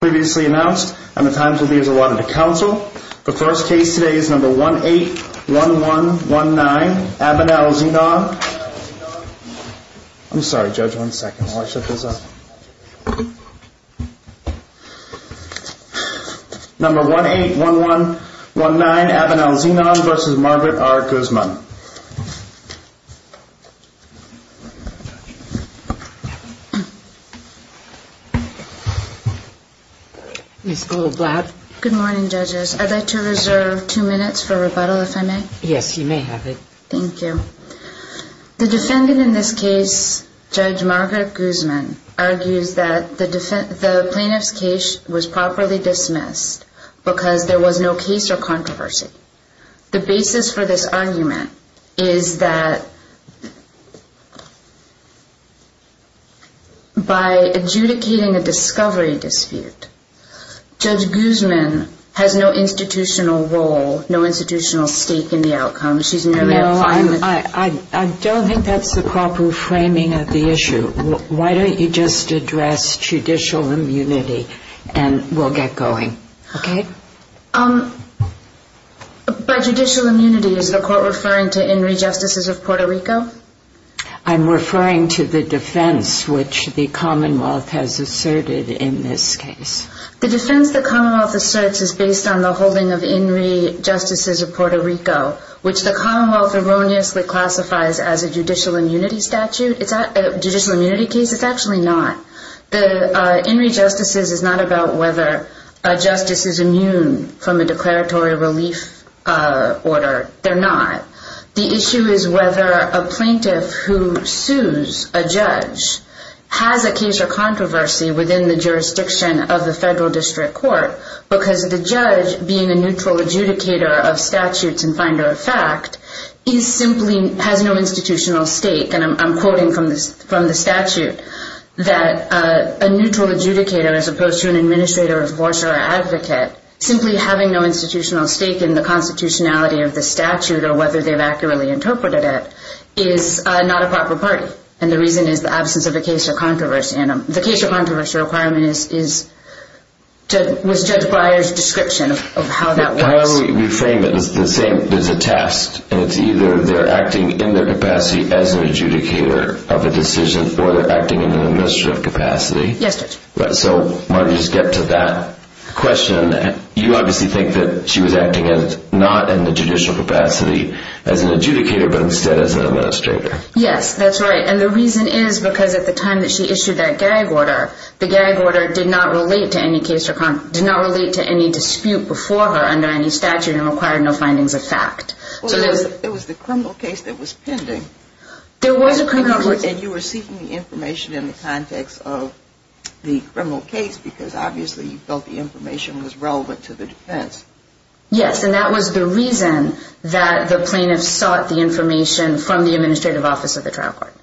Previously announced and the times will be as I wanted to counsel the first case today is number one eight one one one nine abonnell's, you know I'm sorry judge one second. I'll shut this up Number one eight one one one nine abonnell's enon versus Margaret R. Guzman Miss glad good morning judges. I'd like to reserve two minutes for rebuttal if I may. Yes, you may have it. Thank you the defendant in this case Judge Margaret Guzman argues that the defense the plaintiff's case was properly dismissed Because there was no case or controversy the basis for this argument is that By adjudicating a discovery dispute Judge Guzman has no institutional role. No institutional stake in the outcome. She's no I'm I I don't think that's the proper framing of the issue. Why don't you just address? Judicial immunity and we'll get going. Okay. Um By judicial immunity is the court referring to in rejustices of Puerto Rico I'm referring to the defense which the Commonwealth has asserted in this case The defense the Commonwealth asserts is based on the holding of in rejustices of Puerto Rico Which the Commonwealth erroneously classifies as a judicial immunity statute. It's a judicial immunity case. It's actually not the In rejustices is not about whether a justice is immune from a declaratory relief Order, they're not the issue is whether a plaintiff who sues a judge Has a case or controversy within the jurisdiction of the federal district court because of the judge being a neutral adjudicator of statutes and finder of fact He simply has no institutional stake and I'm quoting from this from the statute That a neutral adjudicator as opposed to an administrator divorce or advocate simply having no institutional stake in the constitutionality of the statute or whether they've accurately interpreted it is Not a proper party. And the reason is the absence of a case or controversy and the case of controversy requirement is is To judge Breyer's description of how that we frame it. It's the same There's a test and it's either they're acting in their capacity as an adjudicator Of a decision or they're acting in an administrative capacity yesterday, but so might just get to that Question you obviously think that she was acting as not in the judicial capacity as an adjudicator But instead as an administrator Yes, that's right and the reason is because at the time that she issued that gag order the gag order did not relate to any case or Did not relate to any dispute before her under any statute and required no findings of fact It was the criminal case that was pending There was a criminal and you were seeking the information in the context of The criminal case because obviously you felt the information was relevant to the defense Yes, and that was the reason That the plaintiff sought the information from the administrative office of the trial court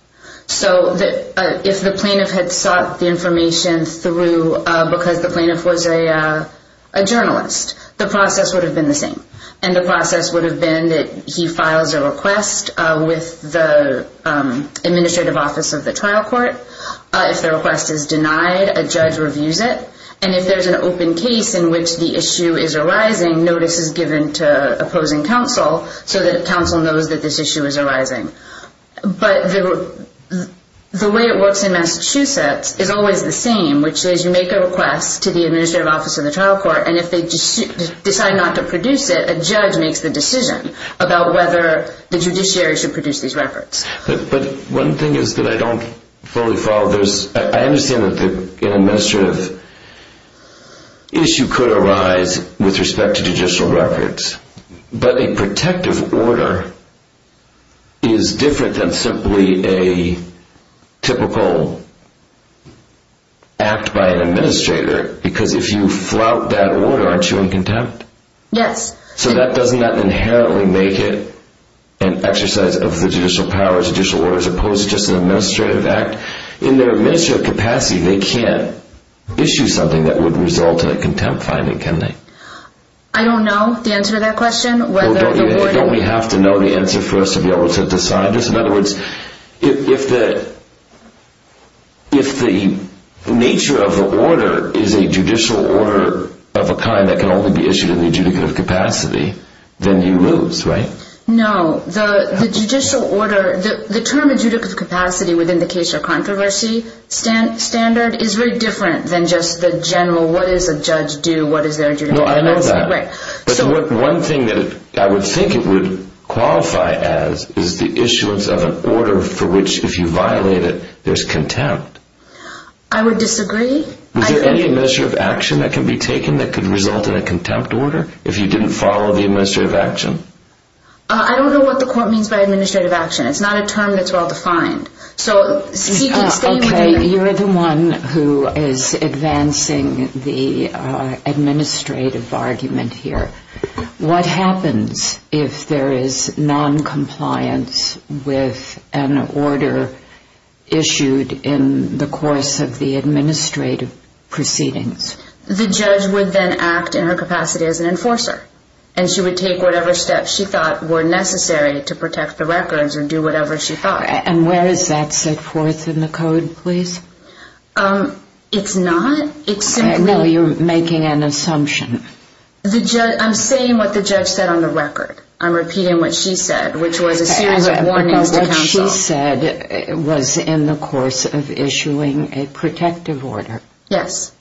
so that if the plaintiff had sought the information through uh, because the plaintiff was a A journalist the process would have been the same and the process would have been that he files a request with the administrative office of the trial court If the request is denied a judge reviews it and if there's an open case in which the issue is arising notice is given to Opposing counsel so that counsel knows that this issue is arising but the way it works in Massachusetts is always the same which is you make a request to the administrative office of the trial court and if they Decide not to produce it a judge makes the decision about whether the judiciary should produce these records But one thing is that I don't fully follow there's I understand that the administrative Issue could arise with respect to judicial records, but a protective order Is different than simply a typical Act by an administrator because if you flout that order aren't you in contempt? Yes, so that doesn't that inherently make it An exercise of the judicial power judicial order as opposed to just an administrative act in their administrative capacity. They can't Issue something that would result in a contempt finding can they? I don't know the answer to that question Don't we have to know the answer for us to be able to decide this? In other words if the If the Nature of the order is a judicial order of a kind that can only be issued in the adjudicative capacity Then you lose right? No the the judicial order the the term adjudicative capacity within the case of controversy Stan standard is very different than just the general. What is a judge do what is there? Right, but one thing that I would think it would Qualify as is the issuance of an order for which if you violate it, there's contempt I would disagree Is there any measure of action that can be taken that could result in a contempt order if you didn't follow the administrative action I don't know what the court means by administrative action. It's not a term that's well defined. So Okay, you're the one who is advancing the Administrative argument here. What happens if there is non-compliance? with an order Issued in the course of the administrative proceedings The judge would then act in her capacity as an enforcer And she would take whatever steps she thought were necessary to protect the records or do whatever she thought And where is that set forth in the code, please? Um, it's not it's no you're making an assumption The judge i'm saying what the judge said on the record. I'm repeating what she said, which was a series of warnings She said it was in the course of issuing a protective order. Yes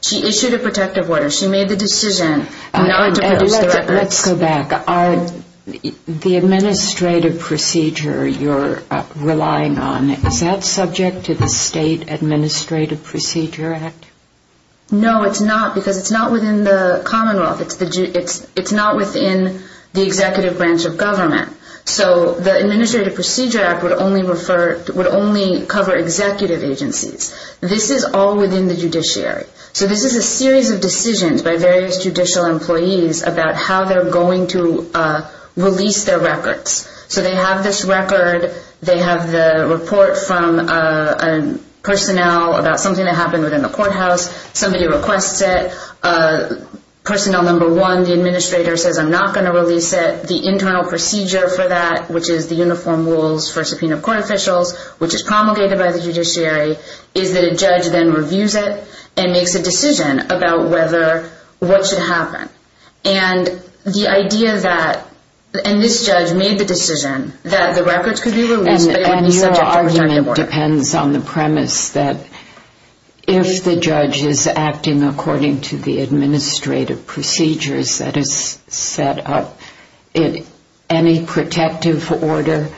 She issued a protective order. She made the decision Let's go back are The administrative procedure you're relying on is that subject to the state administrative procedure act? No, it's not because it's not within the commonwealth. It's the it's it's not within the executive branch of government So the administrative procedure act would only refer would only cover executive agencies. This is all within the judiciary So this is a series of decisions by various judicial employees about how they're going to uh, release their records So they have this record. They have the report from uh, Personnel about something that happened within the courthouse. Somebody requests it. Uh, Personnel number one the administrator says i'm not going to release it the internal procedure for that Which is the uniform rules for subpoena court officials, which is promulgated by the judiciary Is that a judge then reviews it and makes a decision about whether? What should happen? and the idea that And this judge made the decision that the records could be released Depends on the premise that If the judge is acting according to the administrative procedures that is set up Any protective order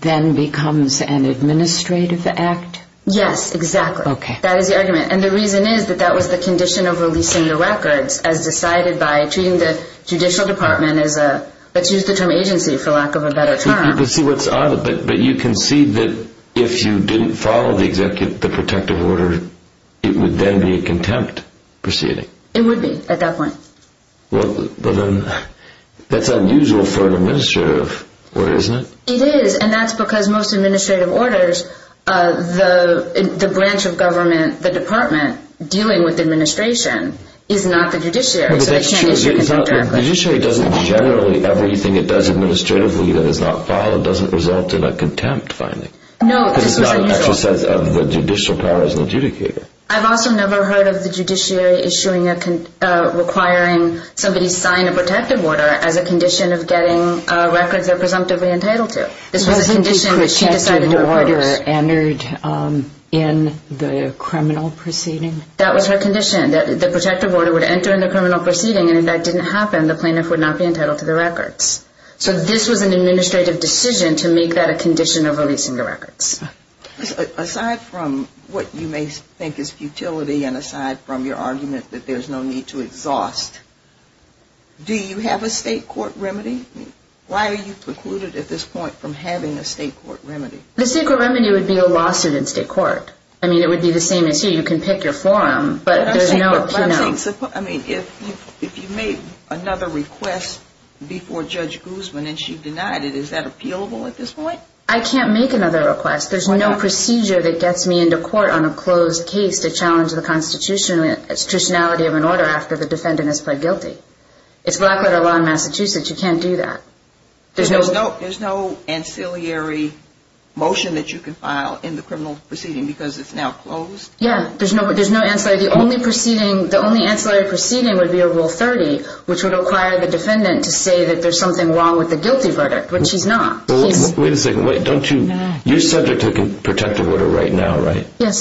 Then becomes an administrative act. Yes, exactly okay, that is the argument and the reason is that that was the condition of releasing the records as decided by treating the Judicial department as a let's use the term agency for lack of a better term But you can see that if you didn't follow the executive the protective order It would then be a contempt proceeding. It would be at that point well That's unusual for an administrative order, isn't it? It is and that's because most administrative orders Uh, the the branch of government the department dealing with administration Is not the judiciary Is not the judiciary doesn't generally everything it does administratively that is not followed doesn't result in a contempt finding No, this is not an exercise of the judicial power as an adjudicator. I've also never heard of the judiciary issuing a Requiring somebody sign a protective order as a condition of getting uh records They're presumptively entitled to this was a condition that she decided to order entered. Um In the criminal proceeding that was her condition that the protective order would enter in the criminal proceeding and if that didn't happen The plaintiff would not be entitled to the records So this was an administrative decision to make that a condition of releasing the records Aside from what you may think is futility and aside from your argument that there's no need to exhaust Do you have a state court remedy? Why are you precluded at this point from having a state court remedy? The secret remedy would be a lawsuit in state court. I mean it would be the same as here you can pick your forum But there's no you know I mean if you if you made another request Before judge guzman and she denied it. Is that appealable at this point? I can't make another request There's no procedure that gets me into court on a closed case to challenge the constitution Institutionality of an order after the defendant has pled guilty It's black letter law in massachusetts. You can't do that There's no no, there's no ancillary Motion that you can file in the criminal proceeding because it's now closed. Yeah, there's no there's no answer The only proceeding the only ancillary proceeding would be a rule 30 Which would require the defendant to say that there's something wrong with the guilty verdict, but she's not Wait a second. Wait, don't you you're subject to the protective order right now, right? Yes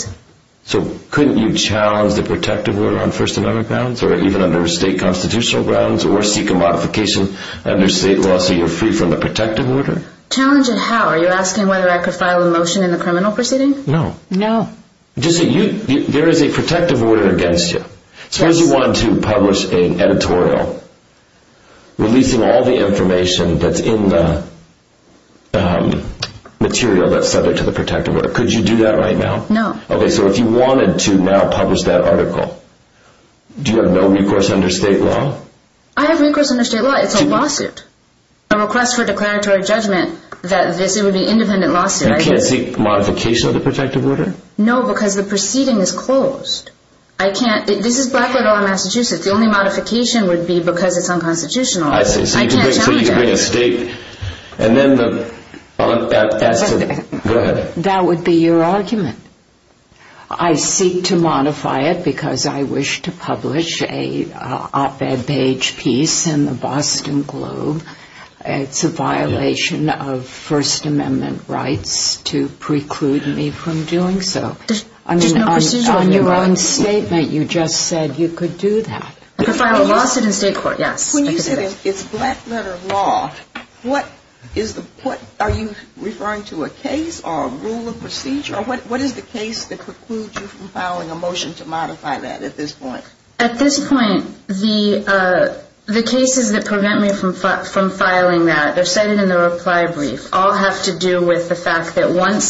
So couldn't you challenge the protective order on first amendment grounds or even under state constitutional grounds or seek a modification? Under state law so you're free from the protective order challenge and how are you asking whether I could file a motion in the criminal proceeding? No, no Just you there is a protective order against you. Suppose you want to publish an editorial releasing all the information that's in the Material that's subject to the protective order. Could you do that right now? No. Okay. So if you wanted to now publish that article Do you have no recourse under state law? I have recourse under state law. It's a lawsuit A request for declaratory judgment that this it would be independent lawsuit. You can't seek modification of the protective order No, because the proceeding is closed I can't this is black little massachusetts. The only modification would be because it's unconstitutional That would be your argument I seek to modify it because I wish to publish a Op-ed page piece in the boston globe It's a violation of first amendment rights to preclude me from doing so I mean on your own statement. You just said you could do that. I could file a lawsuit in state court Yes, when you said it's black letter law What is the what are you referring to a case or a rule of procedure? Or what what is the case that precludes you from filing a motion to modify that at this point at this point? the uh The cases that prevent me from from filing that they're cited in the reply brief all have to do with the fact that once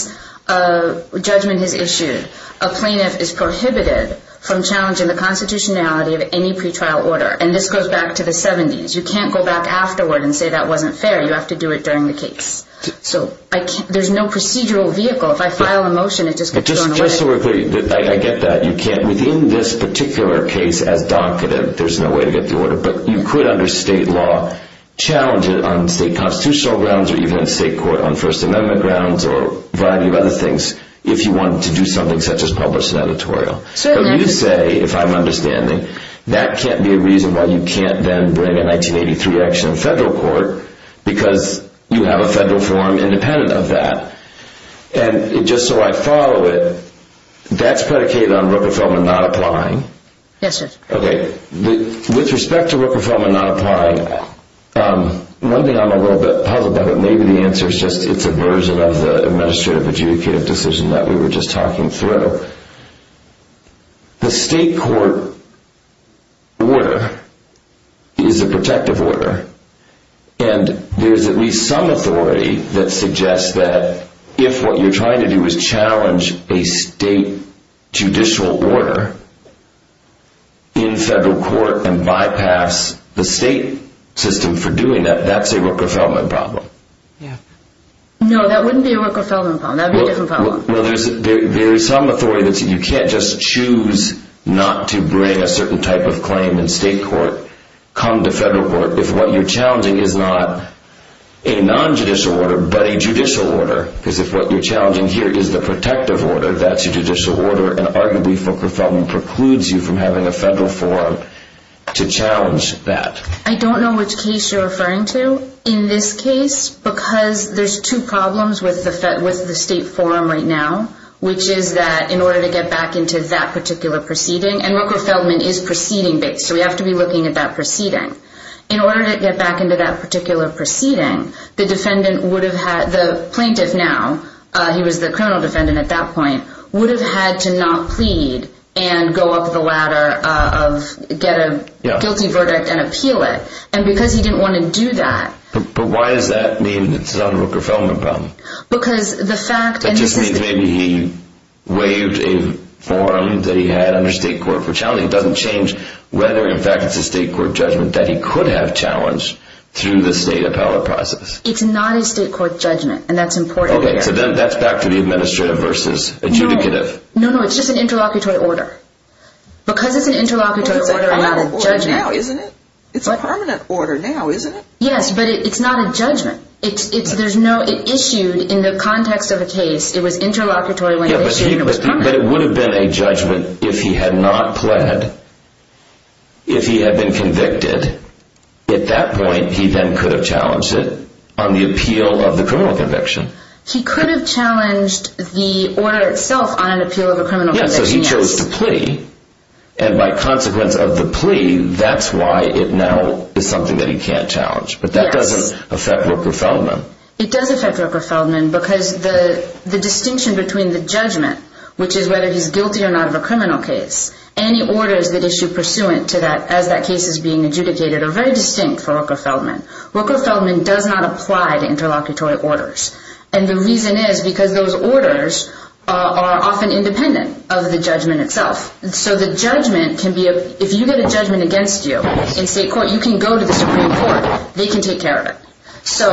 Uh judgment is issued a plaintiff is prohibited From challenging the constitutionality of any pretrial order and this goes back to the 70s You can't go back afterward and say that wasn't fair. You have to do it during the case So I can't there's no procedural vehicle if I file a motion Just so we're clear I get that you can't within this particular case as docketed There's no way to get the order, but you could under state law challenge it on state constitutional grounds or even state court on first amendment grounds or Variety of other things if you want to do something such as publish an editorial So you say if i'm understanding that can't be a reason why you can't then bring a 1983 action in federal court Because you have a federal form independent of that And just so I follow it That's predicated on rooker-feldman not applying. Yes, sir. Okay with respect to rooker-feldman not applying um one thing i'm a little bit puzzled by but maybe the answer is just it's a version of the Administrative adjudicative decision that we were just talking through The state court Order Is a protective order? And there's at least some authority that suggests that if what you're trying to do is challenge a state judicial order In federal court and bypass the state system for doing that that's a rooker-feldman problem. Yeah No, that wouldn't be a rooker-feldman problem. That'd be a different problem. Well, there's there's some authority that you can't just choose Not to bring a certain type of claim in state court Come to federal court if what you're challenging is not A non-judicial order but a judicial order because if what you're challenging here is the protective order That's a judicial order and arguably for profound precludes you from having a federal forum To challenge that I don't know which case you're referring to in this case Because there's two problems with the fed with the state forum right now Which is that in order to get back into that particular proceeding and rooker-feldman is proceeding based So we have to be looking at that proceeding In order to get back into that particular proceeding the defendant would have had the plaintiff now uh, he was the criminal defendant at that point would have had to not plead and go up the ladder of Get a guilty verdict and appeal it and because he didn't want to do that But why does that mean it's not a rooker-feldman problem? Because the fact that just means maybe he Formed that he had under state court for challenging doesn't change whether in fact It's a state court judgment that he could have challenged through the state appellate process It's not a state court judgment and that's important. Okay, so then that's back to the administrative versus adjudicative No, no, it's just an interlocutory order Because it's an interlocutory Isn't it? It's a permanent order now, isn't it? Yes, but it's not a judgment It's it's there's no it issued in the context of a case. It was interlocutory But it would have been a judgment if he had not pled If he had been convicted At that point he then could have challenged it on the appeal of the criminal conviction He could have challenged the order itself on an appeal of a criminal. So he chose to plea And by consequence of the plea that's why it now is something that he can't challenge But that doesn't affect rooker-feldman It does affect rooker-feldman because the the distinction between the judgment Which is whether he's guilty or not of a criminal case Any orders that issue pursuant to that as that case is being adjudicated are very distinct for rooker-feldman Rooker-feldman does not apply to interlocutory orders and the reason is because those orders Are often independent of the judgment itself So the judgment can be if you get a judgment against you in state court, you can go to the supreme court They can take care of it So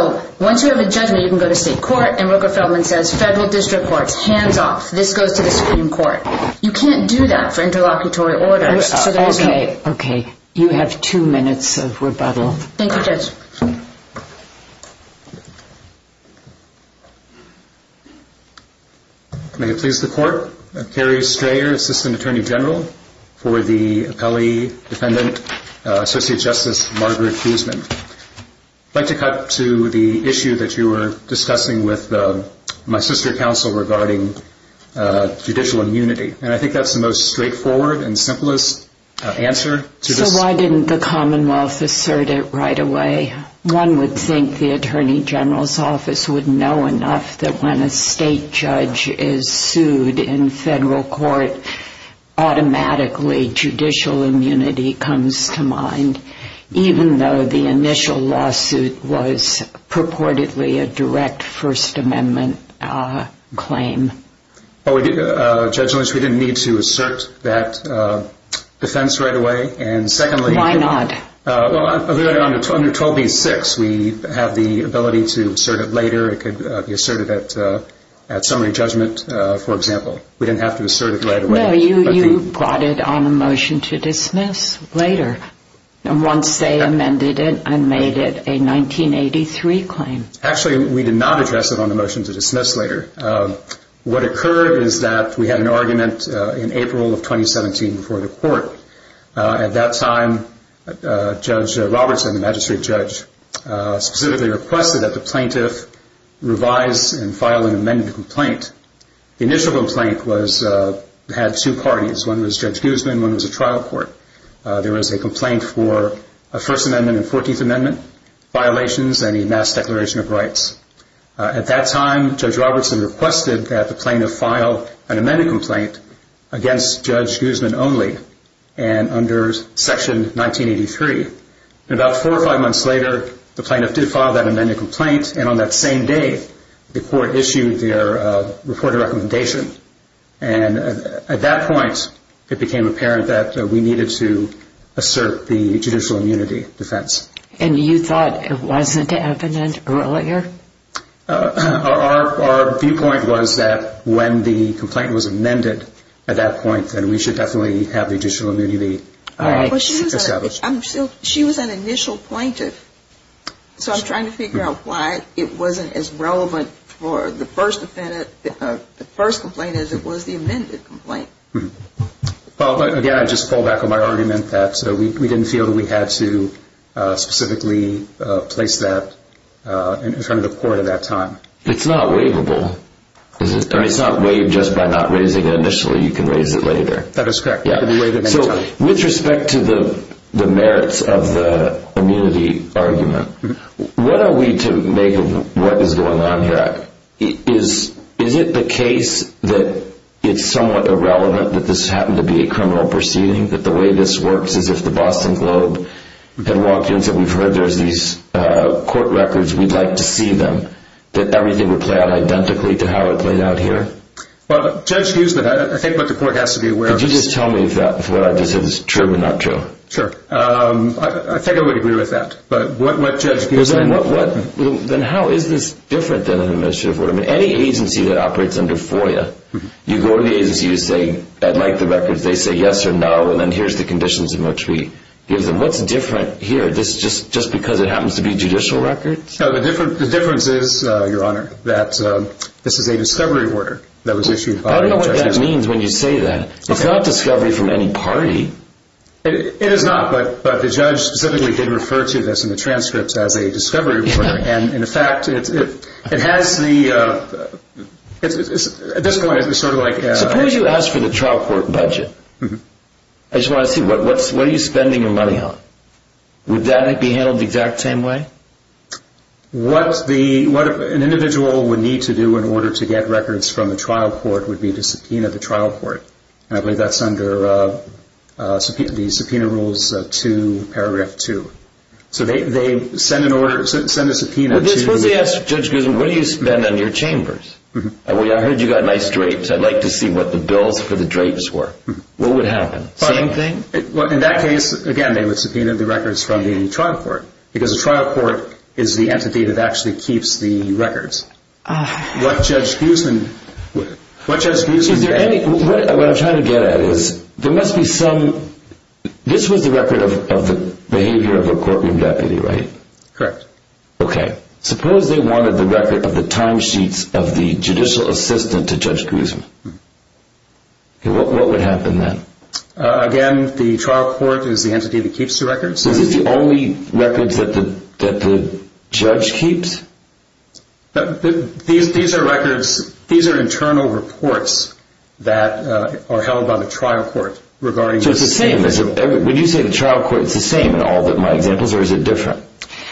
once you have a judgment, you can go to state court and rooker-feldman says federal district courts hands off This goes to the supreme court. You can't do that for interlocutory orders Okay, you have two minutes of rebuttal. Thank you judge May it please the court i'm carrie strayer assistant attorney general for the appellee defendant Associate justice margaret fuseman I'd like to cut to the issue that you were discussing with my sister counsel regarding Judicial immunity and I think that's the most straightforward and simplest Answer so why didn't the commonwealth assert it right away? One would think the attorney general's office would know enough that when a state judge is sued in federal court Automatically judicial immunity comes to mind even though the initial lawsuit was purportedly a direct first amendment, uh claim Well, we did uh judge lynch. We didn't need to assert that Defense right away. And secondly, why not? Well, I alluded on the under 12 v6. We have the ability to assert it later. It could be asserted at uh, Summary judgment, uh, for example, we didn't have to assert it right away. No, you you brought it on a motion to dismiss later And once they amended it and made it a 1983 claim actually, we did not address it on the motion to dismiss later What occurred is that we had an argument in april of 2017 before the court uh at that time Uh judge robertson the magistrate judge, uh specifically requested that the plaintiff Revise and file an amended complaint the initial complaint was Had two parties one was judge guzman. One was a trial court There was a complaint for a first amendment and 14th amendment violations and a mass declaration of rights At that time judge robertson requested that the plaintiff file an amended complaint against judge guzman only and under section 1983 And about four or five months later the plaintiff did file that amended complaint and on that same day the court issued their uh reported recommendation and at that point It became apparent that we needed to Assert the judicial immunity defense and you thought it wasn't evident earlier Our our viewpoint was that when the complaint was amended at that point, then we should definitely have the judicial immunity All right She was an initial plaintiff So i'm trying to figure out why it wasn't as relevant for the first defendant The first complaint as it was the amended complaint Well, again, I just fall back on my argument that so we didn't feel that we had to uh specifically Uh place that Uh in front of the court at that time. It's not waivable Is it or it's not waived just by not raising it initially you can raise it later. That is correct So with respect to the the merits of the immunity argument What are we to make of what is going on here? Is is it the case that? It's somewhat irrelevant that this happened to be a criminal proceeding that the way this works is if the boston globe Had walked in said we've heard there's these uh court records. We'd like to see them That everything would play out identically to how it played out here Well judge hughesman, I think what the court has to be aware did you just tell me if that's what I just said It's true or not true. Sure. Um, I think I would agree with that. But what what judge gives them what what? Then how is this different than an administrative order? I mean any agency that operates under foia You go to the agency to say I'd like the records They say yes or no, and then here's the conditions in which we give them what's different here This is just just because it happens to be judicial records. No, the different the difference is uh, your honor that This is a discovery order that was issued. I don't know what that means when you say that it's not discovery from any party It is not but but the judge specifically did refer to this in the transcripts as a discovery and in fact, it's it it has the uh, At this point it's sort of like suppose you ask for the trial court budget I just want to see what what's what are you spending your money on? Would that be handled the exact same way? What's the what an individual would need to do in order to get records from the trial court would be to subpoena the trial court and I believe that's under uh Subpoena the subpoena rules uh to paragraph two So they they send an order send a subpoena. This is what they ask judge because what do you spend on your chambers? Well, I heard you got nice drapes. I'd like to see what the bills for the drapes were what would happen same thing Well in that case again, they would subpoena the records from the trial court because the trial court is the entity that actually keeps the records What judge guzman? What judge guzman? Is there any what i'm trying to get at is there must be some This was the record of the behavior of a courtroom deputy, right? Correct Okay, suppose they wanted the record of the time sheets of the judicial assistant to judge guzman Okay, what would happen then? Again the trial court is the entity that keeps the records. This is the only records that the that the judge keeps But these these are records. These are internal reports That are held by the trial court regarding just the same as when you say the trial court It's the same in all that my examples or is it different?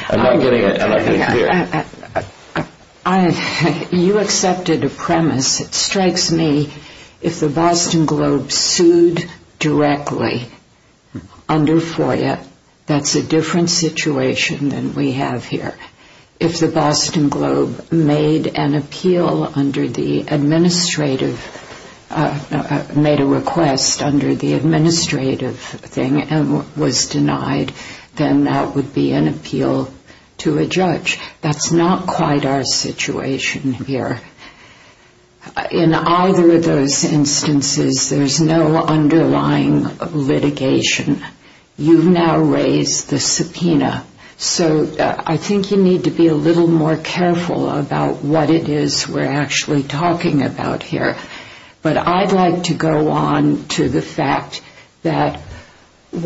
i'm not getting it and I you accepted a premise it strikes me If the boston globe sued directly Under foya, that's a different situation than we have here If the boston globe made an appeal under the administrative uh Made a request under the administrative thing and was denied then that would be an appeal To a judge that's not quite our situation here Uh in either of those instances, there's no underlying litigation You've now raised the subpoena So I think you need to be a little more careful about what it is. We're actually talking about here but i'd like to go on to the fact that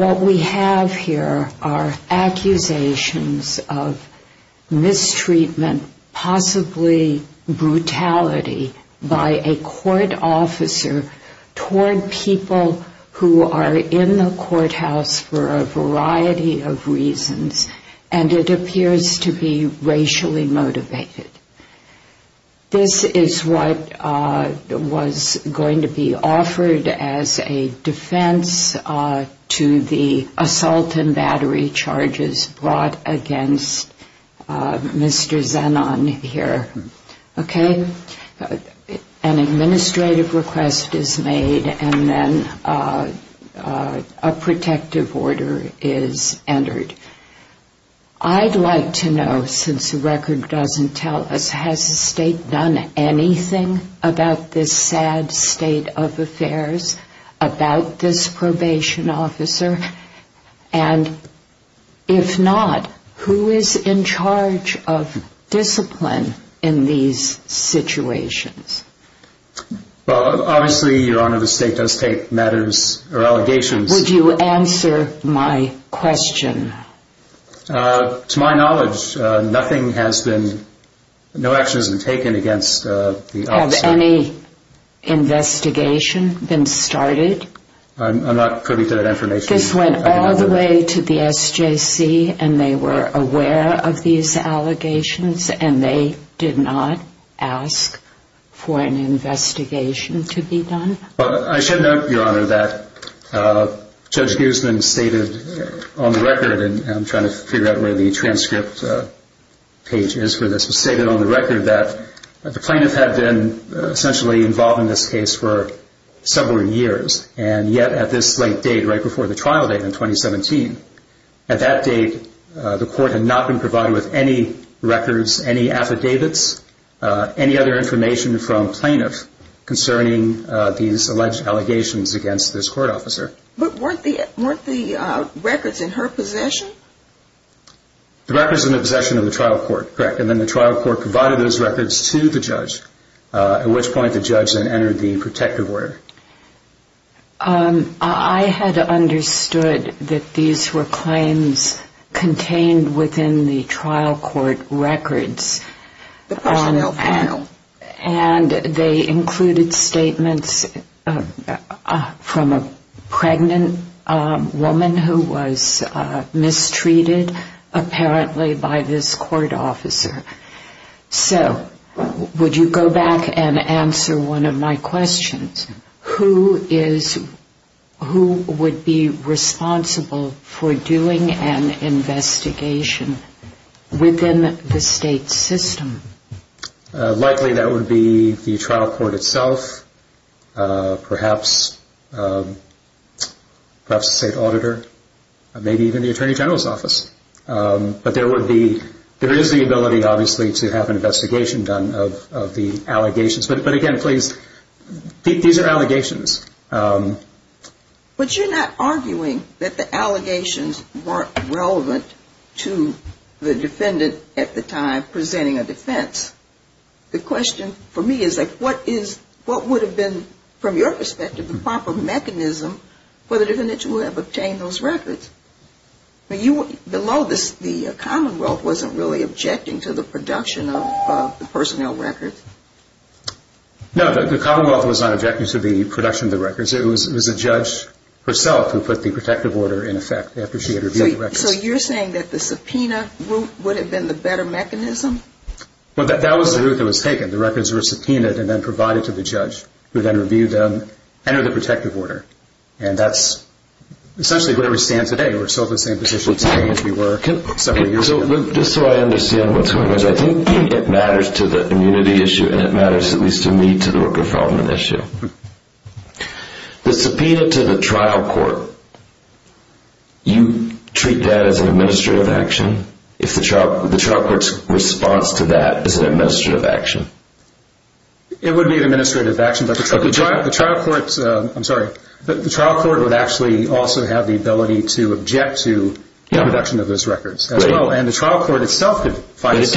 What we have here are accusations of mistreatment Possibly Brutality by a court officer Toward people who are in the courthouse for a variety of reasons And it appears to be racially motivated This is what uh Was going to be offered as a defense uh to the assault and battery charges brought against Uh, mr. Zenon here Okay An administrative request is made and then uh, uh, a protective order is entered I'd like to know since the record doesn't tell us has the state done anything about this sad state of affairs about this probation officer and If not who is in charge of discipline in these situations Well, obviously your honor the state does take matters or allegations would you answer my question uh to my knowledge, uh, nothing has been No action has been taken against uh the any Investigation been started I'm not putting that information this went all the way to the sjc And they were aware of these allegations and they did not ask For an investigation to be done. Well, I should note your honor that uh, judge guzman stated on the record and i'm trying to figure out where the transcript, uh page is for this was stated on the record that the plaintiff had been essentially involved in this case for Several years and yet at this late date right before the trial date in 2017 At that date, uh, the court had not been provided with any records any affidavits Uh any other information from plaintiff concerning, uh, these alleged allegations against this court officer But weren't the weren't the uh records in her possession? The records in the possession of the trial court, correct? And then the trial court provided those records to the judge Uh at which point the judge then entered the protective order Um, I had understood that these were claims contained within the trial court records the personnel panel And they included statements From a pregnant, um woman who was Mistreated apparently by this court officer so Would you go back and answer one of my questions? Who is? Who would be responsible for doing an investigation? Within the state system Likely that would be the trial court itself uh, perhaps Perhaps a state auditor Maybe even the attorney general's office Um, but there would be there is the ability obviously to have an investigation done of of the allegations, but again, please These are allegations. Um But you're not arguing that the allegations weren't relevant to the defendant at the time presenting a defense The question for me is like what is what would have been from your perspective the proper mechanism? For the defendant to have obtained those records But you below this the commonwealth wasn't really objecting to the production of the personnel records No, the commonwealth was not objecting to the production of the records. It was it was a judge Herself who put the protective order in effect after she had reviewed the records So you're saying that the subpoena route would have been the better mechanism? Well, that was the route that was taken the records were subpoenaed and then provided to the judge who then reviewed them entered the protective order and that's Essentially where we stand today. We're still in the same position today as we were several years ago Just so I understand what's going on I think it matters to the immunity issue and it matters at least to me to the worker fraudulent issue The subpoena to the trial court You treat that as an administrative action if the trial the trial court's response to that is an administrative action It would be an administrative action, but the trial the trial court's I'm, sorry, but the trial court would actually also have the ability to object to The production of those records as well and the trial court itself could find it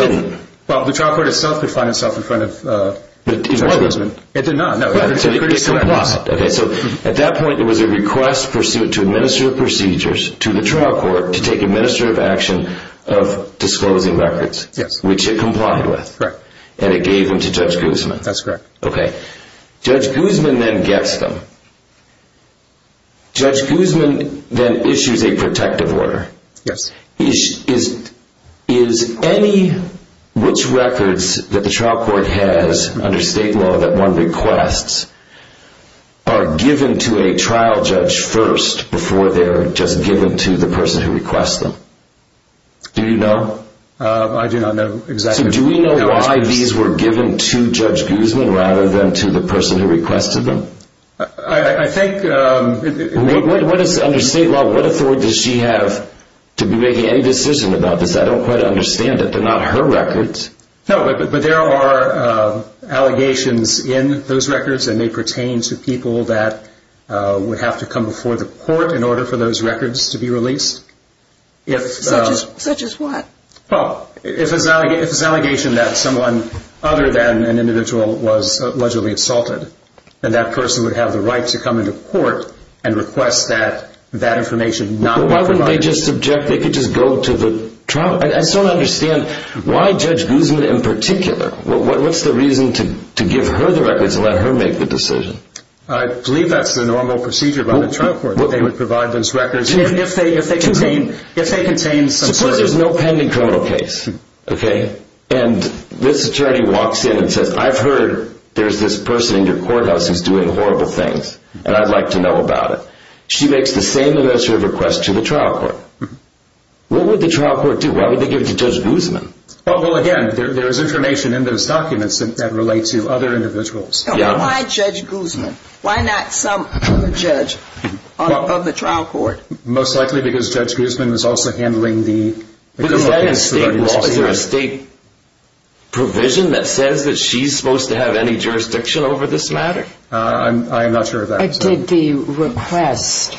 Well, the trial court itself could find itself in front of uh It did not Okay, so at that point it was a request pursuit to administer procedures to the trial court to take administrative action Of disclosing records. Yes, which it complied with right and it gave them to judge guzman. That's correct. Okay Judge guzman then gets them Judge guzman then issues a protective order. Yes, he is is any Which records that the trial court has under state law that one requests? Are given to a trial judge first before they're just given to the person who requests them Do you know? Uh, I do not know exactly do we know why these were given to judge guzman rather than to the person who requested them I I think um What is under state law? What authority does she have? To be making any decision about this. I don't quite understand it. They're not her records. No, but there are Allegations in those records and they pertain to people that Uh would have to come before the court in order for those records to be released If such as what well if it's an allegation that someone Other than an individual was allegedly assaulted And that person would have the right to come into court and request that that information not why wouldn't they just object? They could just go to the trial. I just don't understand why judge guzman in particular What's the reason to to give her the records and let her make the decision? I believe that's the normal procedure by the trial court They would provide those records if they if they contain if they contain suppose there's no pending criminal case Okay, and this attorney walks in and says i've heard there's this person in your courthouse who's doing horrible things And i'd like to know about it. She makes the same amount of requests to the trial court What would the trial court do? Why would they give it to judge guzman? Well, well again, there's information in those documents that relate to other individuals. Yeah, why judge guzman? Why not some other judge? On the trial court most likely because judge guzman was also handling the State Provision that says that she's supposed to have any jurisdiction over this matter. Uh, i'm not sure that did the request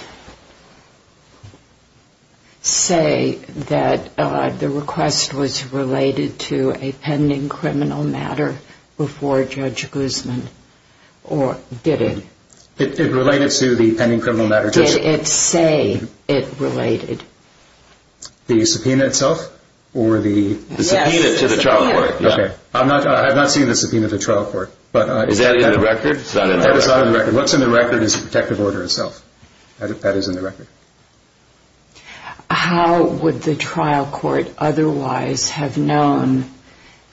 Say that uh, the request was related to a pending criminal matter before judge guzman Or did it it related to the pending criminal matter did it say it related the subpoena itself Or the subpoena to the trial court. Okay, i'm not i have not seen the subpoena to trial court But is that in the record? What's in the record is a protective order itself that is in the record How would the trial court otherwise have known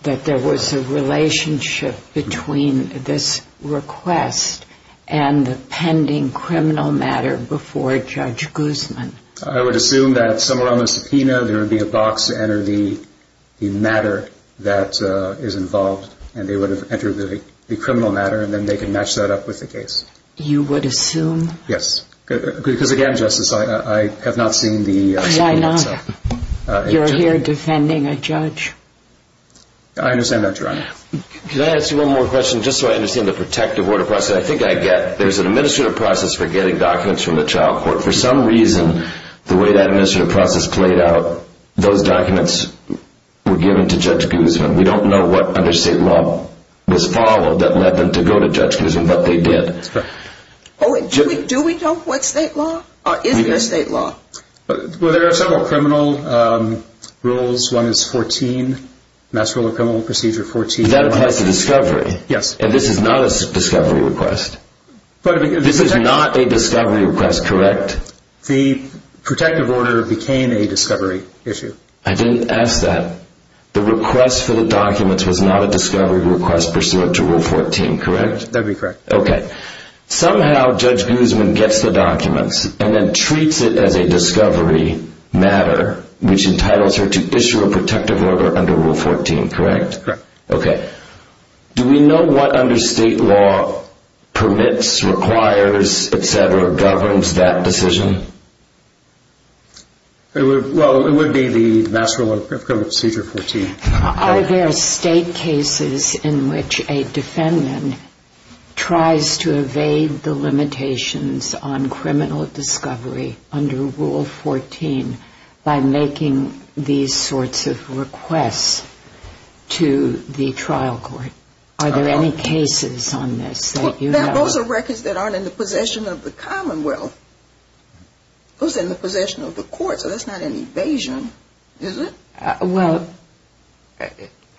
That there was a relationship between this request and the pending criminal matter before judge guzman, I would assume that somewhere on the subpoena there would be a box to enter the The matter that uh is involved and they would have entered the criminal matter and then they can match that up with the case You would assume yes Because again justice. I I have not seen the why not? You're here defending a judge I understand that. Could I ask you one more question just so I understand the protective order process I think I get there's an administrative process for getting documents from the trial court for some reason The way that administrative process played out those documents Were given to judge guzman. We don't know what under state law Was followed that led them to go to judge guzman, but they did Oh, do we do we know what state law or is there a state law? Well, there are several criminal Rules one is 14 Mass criminal procedure 14 that applies to discovery. Yes, and this is not a discovery request But this is not a discovery request, correct? The protective order became a discovery issue. I didn't ask that The request for the documents was not a discovery request pursuant to rule 14, correct? That'd be correct. Okay Somehow judge guzman gets the documents and then treats it as a discovery Matter which entitles her to issue a protective order under rule 14, correct? Correct. Okay Do we know what under state law? Permits requires etc. Governs that decision Well, it would be the master of criminal procedure 14 Are there state cases in which a defendant? Tries to evade the limitations on criminal discovery under rule 14 by making these sorts of requests to the trial court Are there any cases on this that you know, those are records that aren't in the possession of the commonwealth Those in the possession of the court, so that's not an evasion Is it? well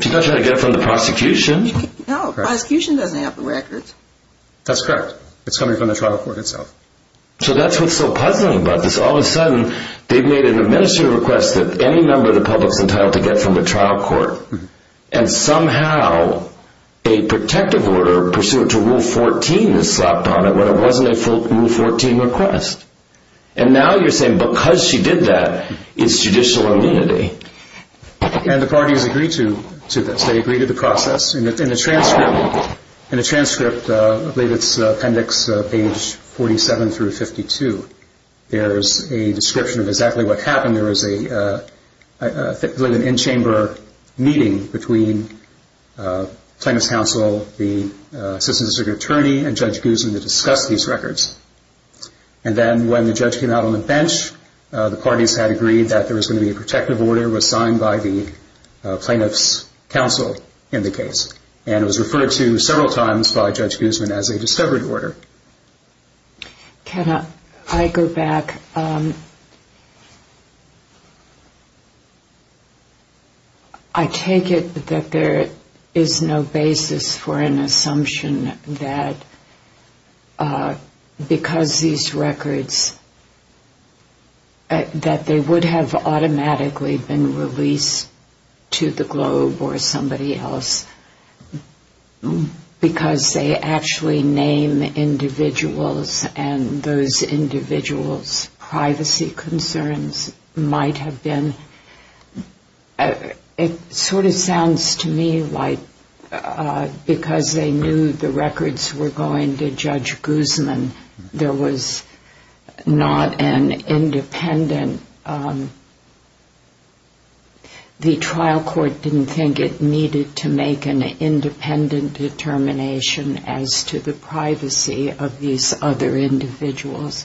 She's not trying to get from the prosecution No prosecution doesn't have the records That's correct. It's coming from the trial court itself So that's what's so puzzling about this all of a sudden They've made an administrative request that any member of the public's entitled to get from the trial court and somehow A protective order pursuant to rule 14 is slapped on it when it wasn't a full rule 14 request And now you're saying because she did that it's judicial immunity And the parties agree to to this they agree to the process and it's in the transcript In the transcript, I believe it's appendix page 47 through 52 There's a description of exactly what happened. There was a I believe an in-chamber meeting between Plaintiff's counsel the assistant district attorney and judge gooseman to discuss these records And then when the judge came out on the bench The parties had agreed that there was going to be a protective order was signed by the Plaintiff's counsel in the case and it was referred to several times by judge gooseman as a discovered order Can I go back I take it that there is no basis for an assumption that Because these records That they would have automatically been released to the globe or somebody else Because they actually name individuals and those individuals privacy concerns might have been It sort of sounds to me like Because they knew the records were going to judge gooseman. There was Not an independent The trial court didn't think it needed to make an independent determination as to the privacy of these other individuals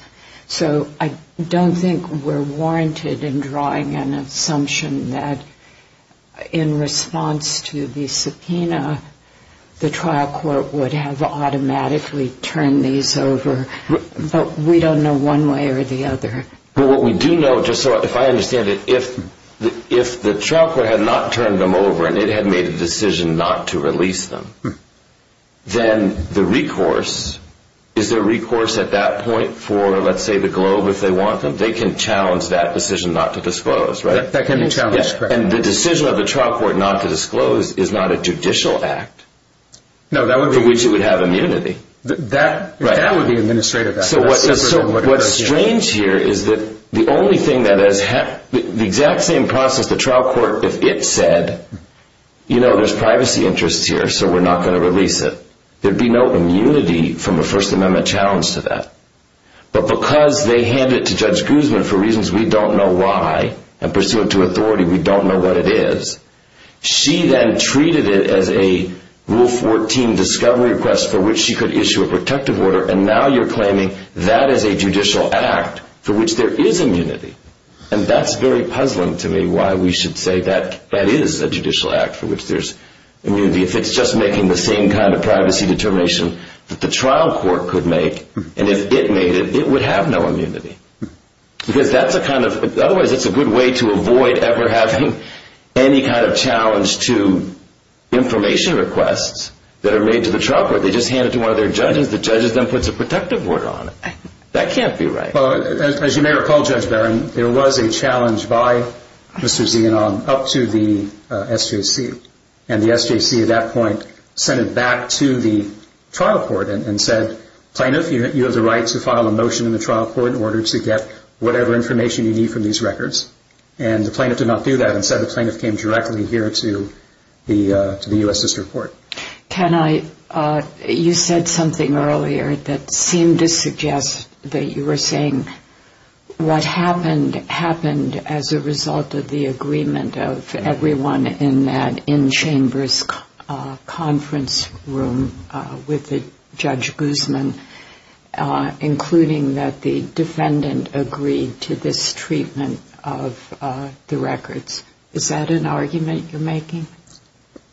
so I don't think we're warranted in drawing an assumption that in response to the subpoena The trial court would have automatically turned these over But we don't know one way or the other but what we do know just so if I understand it if If the trial court had not turned them over and it had made a decision not to release them Then the recourse Is there recourse at that point for let's say the globe if they want them they can challenge that decision not to disclose, right? That can be challenged and the decision of the trial court not to disclose is not a judicial act No, that would be which it would have immunity that that would be administrative What's strange here? Is that the only thing that has happened the exact same process the trial court if it said You know, there's privacy interests here. So we're not going to release it. There'd be no immunity from a first amendment challenge to that But because they hand it to judge gooseman for reasons. We don't know why and pursuant to authority. We don't know what it is she then treated it as a Rule 14 discovery request for which she could issue a protective order and now you're claiming that is a judicial act for which there is immunity and that's very puzzling to me why we should say that that is a judicial act for which there's Immunity if it's just making the same kind of privacy determination That the trial court could make and if it made it it would have no immunity Because that's a kind of otherwise. It's a good way to avoid ever having any kind of challenge to Information requests that are made to the trial court. They just hand it to one of their judges The judges then puts a protective order on it. That can't be right. Well, as you may recall judge baron, there was a challenge by Mr. Zian on up to the SJC and the sjc at that point sent it back to the trial court and said Plaintiff you have the right to file a motion in the trial court in order to get whatever information you need from these records and the plaintiff did not do that and said the plaintiff came directly here to The uh to the u.s sister court can I uh, you said something earlier that seemed to suggest that you were saying What happened happened as a result of the agreement of everyone in that in chambers? conference room with the judge guzman Uh, including that the defendant agreed to this treatment of uh, the records Is that an argument you're making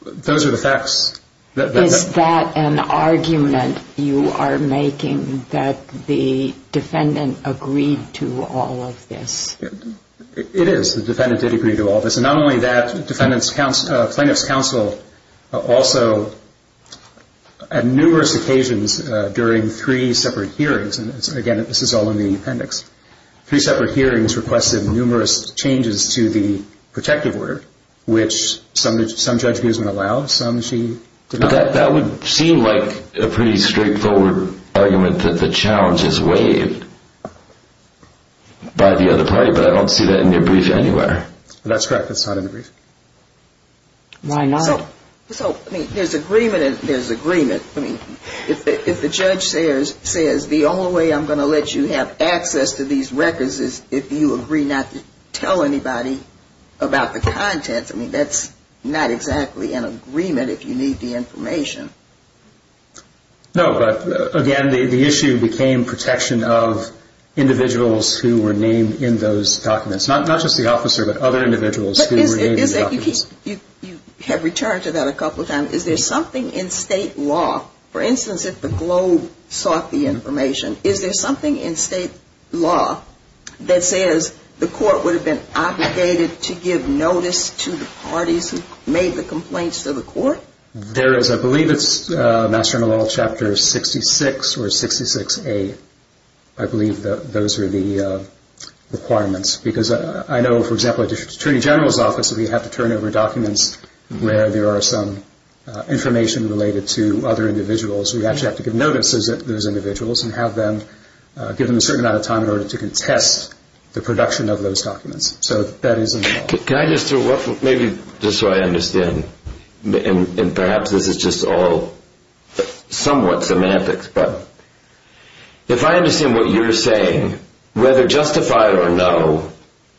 Those are the facts Is that an argument you are making that the defendant agreed to all of this? It is the defendant did agree to all this and not only that defendant's counsel plaintiff's counsel also At numerous occasions during three separate hearings and again, this is all in the appendix Three separate hearings requested numerous changes to the protective order which some some judge guzman allowed some she That would seem like a pretty straightforward Argument that the challenge is waived By the other party, but I don't see that in your brief anywhere that's correct. That's not in the brief Why not? So, I mean there's agreement and there's agreement I mean if the judge says says the only way i'm going to let you have access to these records is if you agree Not to tell anybody About the contents. I mean that's not exactly an agreement if you need the information No, but again the issue became protection of Individuals who were named in those documents not just the officer but other individuals Is that you keep you you have returned to that a couple of times is there something in state law for instance if the globe sought the information is there something in state law That says the court would have been obligated to give notice to the parties who made the complaints to the court There is I believe it's uh master in the law chapter 66 or 66 a I believe that those are the uh Documents because I know for example attorney general's office that we have to turn over documents where there are some Information related to other individuals. We actually have to give notices that those individuals and have them Give them a certain amount of time in order to contest the production of those documents. So that is Can I just throw up maybe just so I understand And perhaps this is just all somewhat semantics, but If I understand what you're saying whether justified or no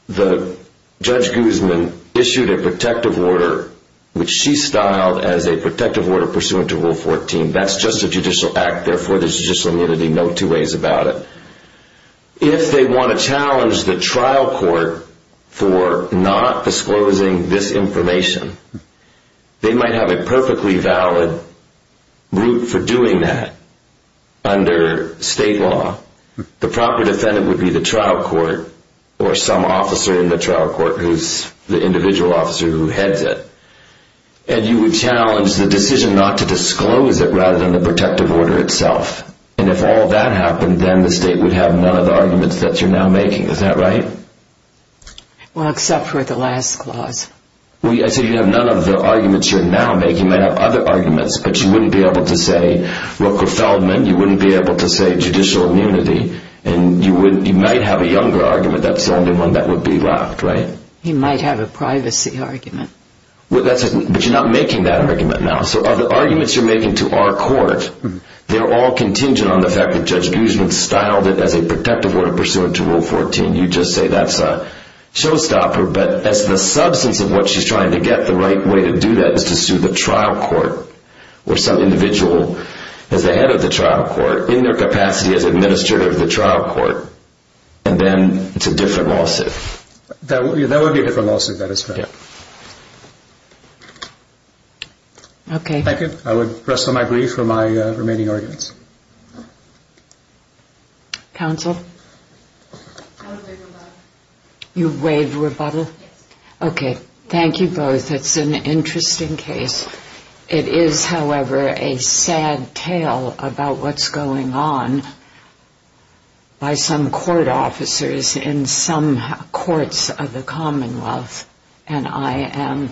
the Judge guzman issued a protective order Which she styled as a protective order pursuant to rule 14. That's just a judicial act. Therefore. There's just immunity. No two ways about it If they want to challenge the trial court for not disclosing this information They might have a perfectly valid route for doing that Under state law The proper defendant would be the trial court Or some officer in the trial court who's the individual officer who heads it? And you would challenge the decision not to disclose it rather than the protective order itself And if all that happened, then the state would have none of the arguments that you're now making. Is that right? Well, except for the last clause We I said you'd have none of the arguments you're now making might have other arguments, but you wouldn't be able to say Roker Feldman you wouldn't be able to say judicial immunity and you wouldn't you might have a younger argument That's the only one that would be left right? He might have a privacy argument Well, that's but you're not making that argument now. So are the arguments you're making to our court They're all contingent on the fact that judge guzman styled it as a protective order pursuant to rule 14. You just say that's a Showstopper, but that's the substance of what she's trying to get the right way to do that is to sue the trial court Or some individual As the head of the trial court in their capacity as administrator of the trial court And then it's a different lawsuit That that would be a different lawsuit. That is fair Okay, thank you, I would rest on my grief for my remaining arguments Counsel You waived rebuttal Okay, thank you both it's an interesting case It is however a sad tale about what's going on By some court officers in some courts of the commonwealth and I am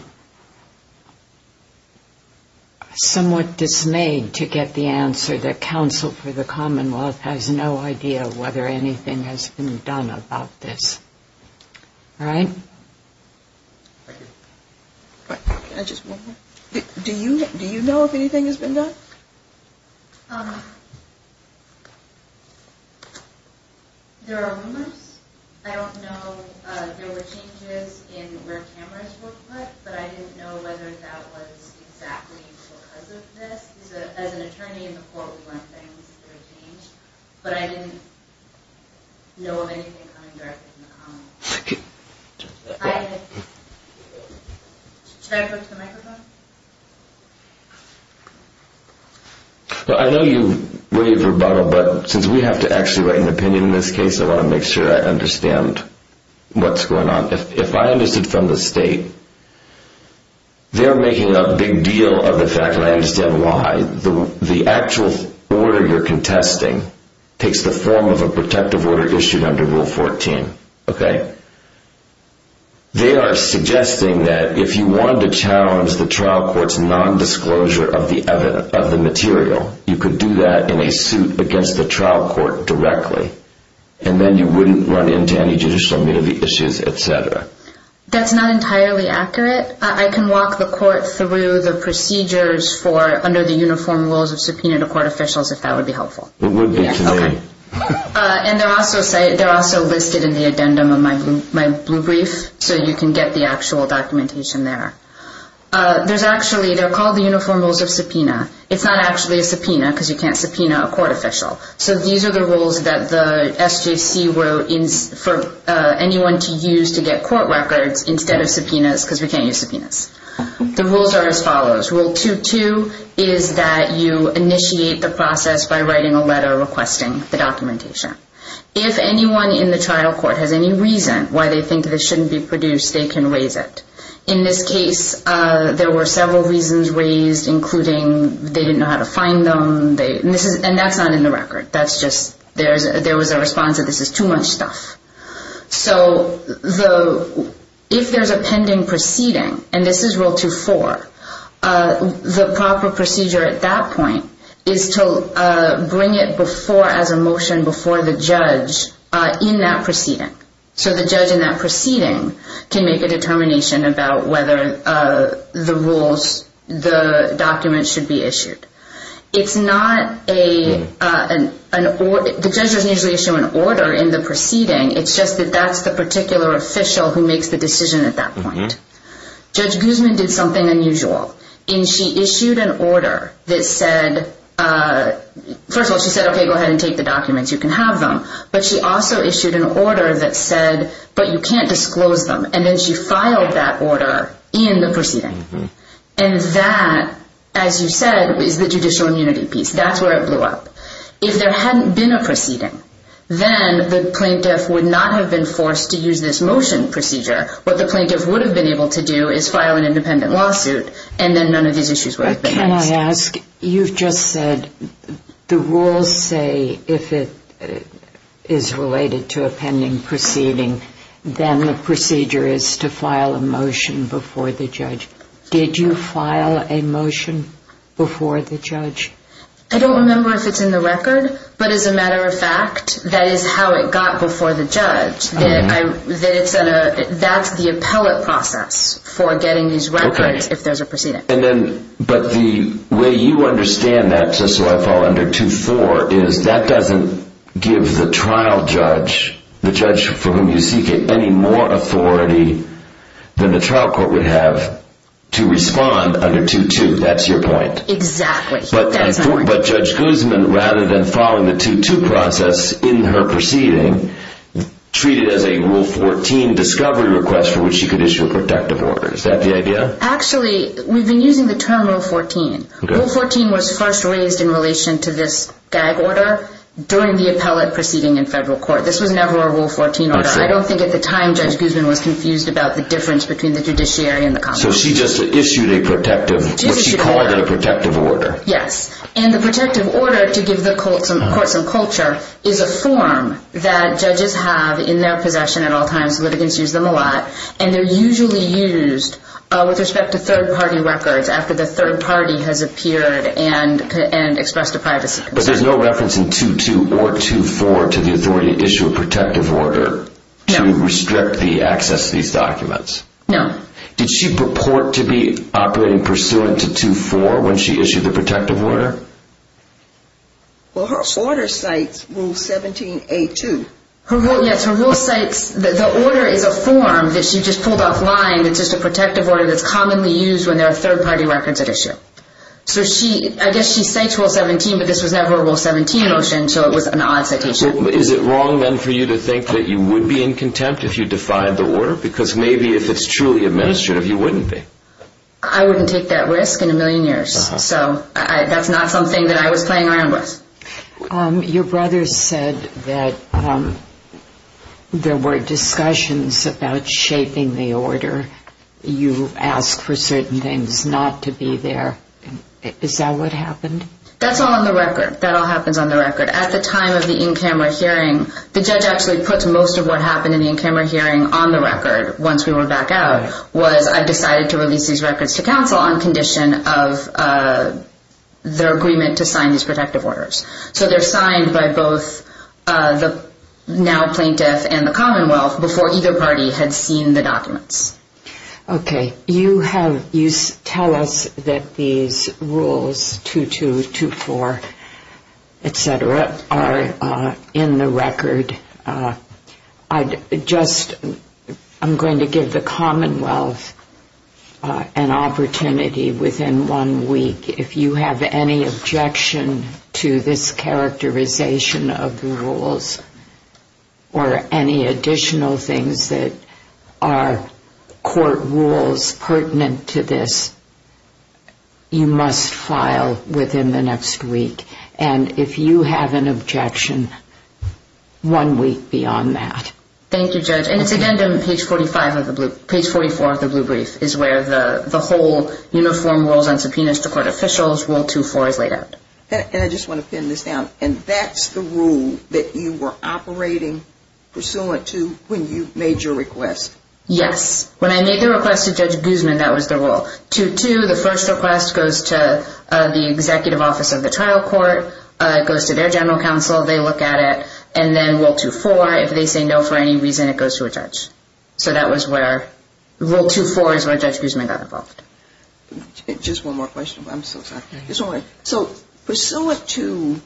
Somewhat dismayed to get the answer that counsel for the commonwealth has no idea whether anything has been done about this All right Do you do you know if anything has been done um There are rumors, I don't know, uh, there were changes in where cameras were put, but I didn't know whether that was exactly Because of this as an attorney in the court, we weren't saying this is going to change but I didn't know of anything I Should I go to the microphone Well, I know you waived rebuttal but since we have to actually write an opinion in this case, I want to make sure I understand What's going on if I understood from the state? They're making a big deal of the fact and I understand why the the actual order you're contesting Takes the form of a protective order issued under rule 14. Okay They are suggesting that if you wanted to challenge the trial court's non-disclosure of the evidence of the material You could do that in a suit against the trial court directly And then you wouldn't run into any judicial immunity issues, etc That's not entirely accurate I can walk the court through the procedures for under the uniform rules of subpoena to court officials if that would be helpful It would be to me Uh, and they're also say they're also listed in the addendum of my blue my blue brief so you can get the actual documentation there Uh, there's actually they're called the uniform rules of subpoena. It's not actually a subpoena because you can't subpoena a court official So these are the rules that the sjc wrote in for Anyone to use to get court records instead of subpoenas because we can't use subpoenas The rules are as follows rule 2-2 Is that you initiate the process by writing a letter requesting the documentation? If anyone in the trial court has any reason why they think this shouldn't be produced they can raise it in this case Uh, there were several reasons raised including they didn't know how to find them They and this is and that's not in the record. That's just there's there was a response that this is too much stuff so the If there's a pending proceeding and this is rule two four Uh the proper procedure at that point is to uh, bring it before as a motion before the judge Uh in that proceeding so the judge in that proceeding can make a determination about whether uh, the rules The documents should be issued It's not a uh, an an order the judge doesn't usually issue an order in the proceeding It's just that that's the particular official who makes the decision at that point Judge guzman did something unusual and she issued an order that said, uh First of all, she said okay go ahead and take the documents you can have them But she also issued an order that said but you can't disclose them and then she filed that order in the proceeding And that as you said is the judicial immunity piece. That's where it blew up If there hadn't been a proceeding Then the plaintiff would not have been forced to use this motion procedure What the plaintiff would have been able to do is file an independent lawsuit and then none of these issues would have been asked you've just said the rules say if it Is related to a pending proceeding Then the procedure is to file a motion before the judge. Did you file a motion? before the judge I don't remember if it's in the record But as a matter of fact, that is how it got before the judge that I that it's at a that's the appellate process For getting these records if there's a proceeding and then but the way you understand that So I fall under two four is that doesn't Give the trial judge the judge for whom you seek it any more authority than the trial court would have To respond under two two, that's your point exactly But judge guzman rather than following the two two process in her proceeding Treated as a rule 14 discovery request for which she could issue a protective order. Is that the idea? Actually, we've been using the term rule 14 rule 14 was first raised in relation to this gag order During the appellate proceeding in federal court. This was never a rule 14 order I don't think at the time judge guzman was confused about the difference between the judiciary and the constitution So she just issued a protective what she called a protective order Yes, and the protective order to give the court some courtsome culture is a form That judges have in their possession at all times litigants use them a lot and they're usually used With respect to third party records after the third party has appeared and and expressed a privacy But there's no reference in two two or two four to the authority to issue a protective order To restrict the access to these documents. No, did she purport to be operating pursuant to two four? When she issued the protective order Well, her order cites rule 17 a two Her vote. Yes, her rule cites the order is a form that she just pulled off line It's just a protective order that's commonly used when there are third party records at issue So she I guess she cites rule 17, but this was never rule 17 motion So it was an odd citation Is it wrong then for you to think that you would be in contempt if you defied the order because maybe if it's truly Administrative you wouldn't be I wouldn't take that risk in a million years. So I that's not something that I was playing around with um, your brother said that um There were discussions about shaping the order You asked for certain things not to be there Is that what happened that's all on the record that all happens on the record at the time of the in-camera hearing The judge actually puts most of what happened in the in-camera hearing on the record once we were back out was I decided to release these records to counsel on condition of Their agreement to sign these protective orders, so they're signed by both uh the Now plaintiff and the commonwealth before either party had seen the documents Okay, you have you tell us that these rules 2 2 2 4 Etc are uh in the record. Uh I just I'm going to give the commonwealth Uh an opportunity within one week if you have any objection to this characterization of the rules or any additional things that Are court rules pertinent to this? You must file within the next week and if you have an objection One week beyond that. Thank you judge And it's again on page 45 of the blue page 44 of the blue brief is where the the whole Uniform rules on subpoenas to court officials rule 2 4 is laid out And I just want to pin this down and that's the rule that you were operating Pursuant to when you made your request Yes, when I made the request to judge guzman, that was the rule to to the first request goes to The executive office of the trial court, uh goes to their general counsel They look at it and then rule 2 4 if they say no for any reason it goes to a judge So that was where? Rule 2 4 is where judge guzman got involved Just one more question. I'm so sorry. It's all right. So pursuant to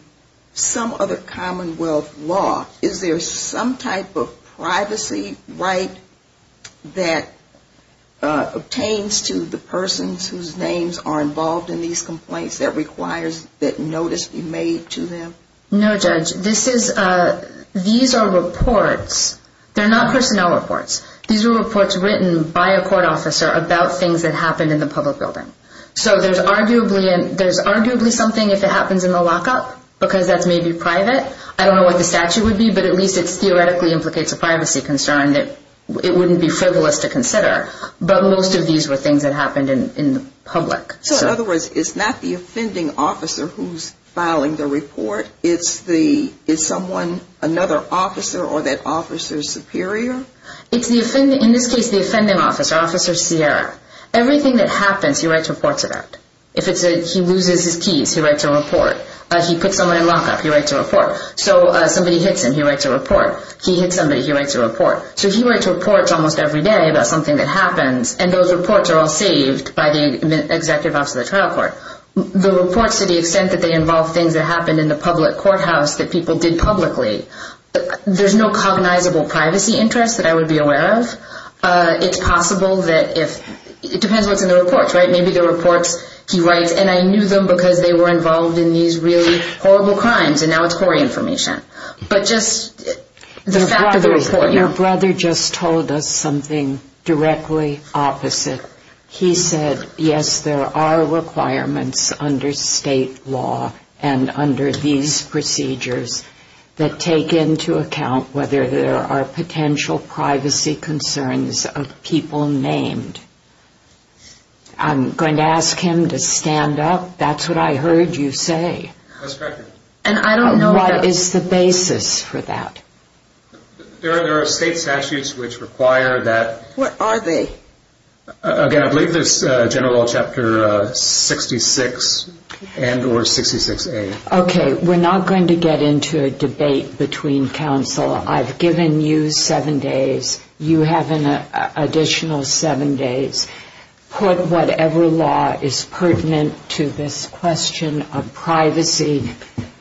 Some other commonwealth law, is there some type of privacy right? that Uh obtains to the persons whose names are involved in these complaints that requires that notice be made to them No, judge. This is uh These are reports They're not personnel reports. These are reports written by a court officer about things that happened in the public building So there's arguably and there's arguably something if it happens in the lockup because that's maybe private I don't know what the statute would be but at least it's theoretically implicates a privacy concern that It wouldn't be frivolous to consider But most of these were things that happened in in the public So in other words, it's not the offending officer who's filing the report It's the is someone another officer or that officer's superior It's the offending in this case the offending officer officer. Sierra Everything that happens he writes reports about if it's a he loses his keys He writes a report. He puts someone in lockup. He writes a report. So somebody hits him. He writes a report He hits somebody he writes a report So he writes reports almost every day about something that happens and those reports are all saved by the executive officer of the trial court The reports to the extent that they involve things that happened in the public courthouse that people did publicly There's no cognizable privacy interest that I would be aware of uh, it's possible that if It depends what's in the reports, right? Maybe the reports he writes and I knew them because they were involved in these really horrible crimes and now it's for information but just The fact of the report your brother just told us something directly opposite He said yes, there are requirements under state law and under these procedures That take into account whether there are potential privacy concerns of people named I'm going to ask him to stand up. That's what I heard you say And I don't know what is the basis for that There are there are state statutes which require that what are they? Again, I believe there's a general chapter 66 And or 66a, okay, we're not going to get into a debate between council i've given you seven days You have an additional seven days Put whatever law is pertinent to this question of privacy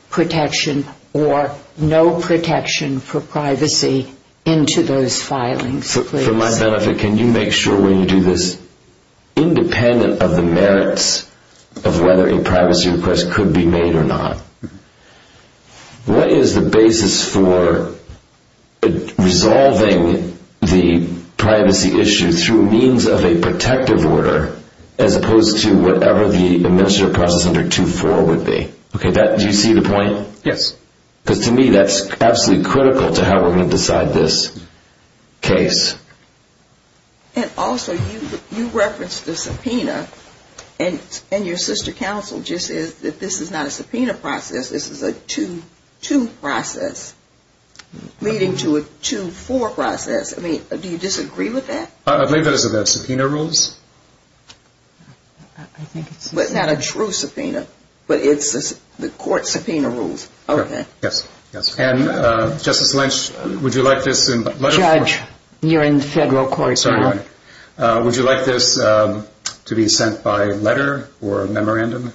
Protection or no protection for privacy Into those filings for my benefit. Can you make sure when you do this? Independent of the merits of whether a privacy request could be made or not What is the basis for Resolving the privacy issue through means of a protective order As opposed to whatever the administrative process under 2-4 would be. Okay that do you see the point? Yes Because to me that's absolutely critical to how we're going to decide this case And also you you reference the subpoena And and your sister council just says that this is not a subpoena process. This is a 2-2 process Leading to a 2-4 process. I mean, do you disagree with that? I believe that is about subpoena rules I think it's not a true subpoena, but it's the court subpoena rules. Okay. Yes. Yes and uh, justice lynch Would you like this in the judge you're in federal court, sorry, uh, would you like this, um To be sent by letter or a memorandum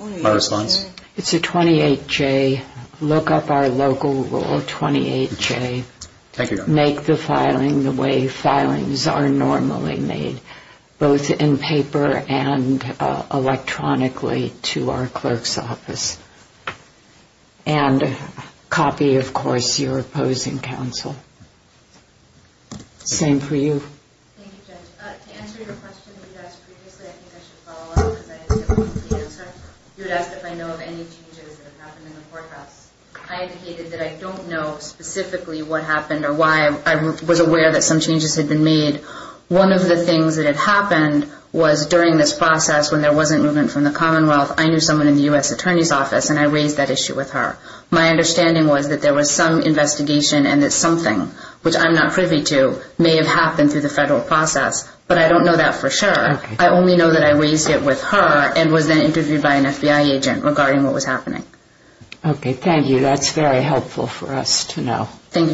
My response it's a 28 j Look up our local rule 28 j Thank you. Make the filing the way filings are normally made both in paper and electronically to our clerk's office And copy, of course your opposing counsel Same for you I indicated that I don't know specifically what happened or why I was aware that some changes had been made One of the things that had happened was during this process when there wasn't movement from the commonwealth I knew someone in the u.s attorney's office and I raised that issue with her My understanding was that there was some investigation and that something which i'm not privy to may have happened through the federal process But I don't know that for sure I only know that I raised it with her and was then interviewed by an fbi agent regarding what was happening Okay. Thank you. That's very helpful for us to know. Thank you, judge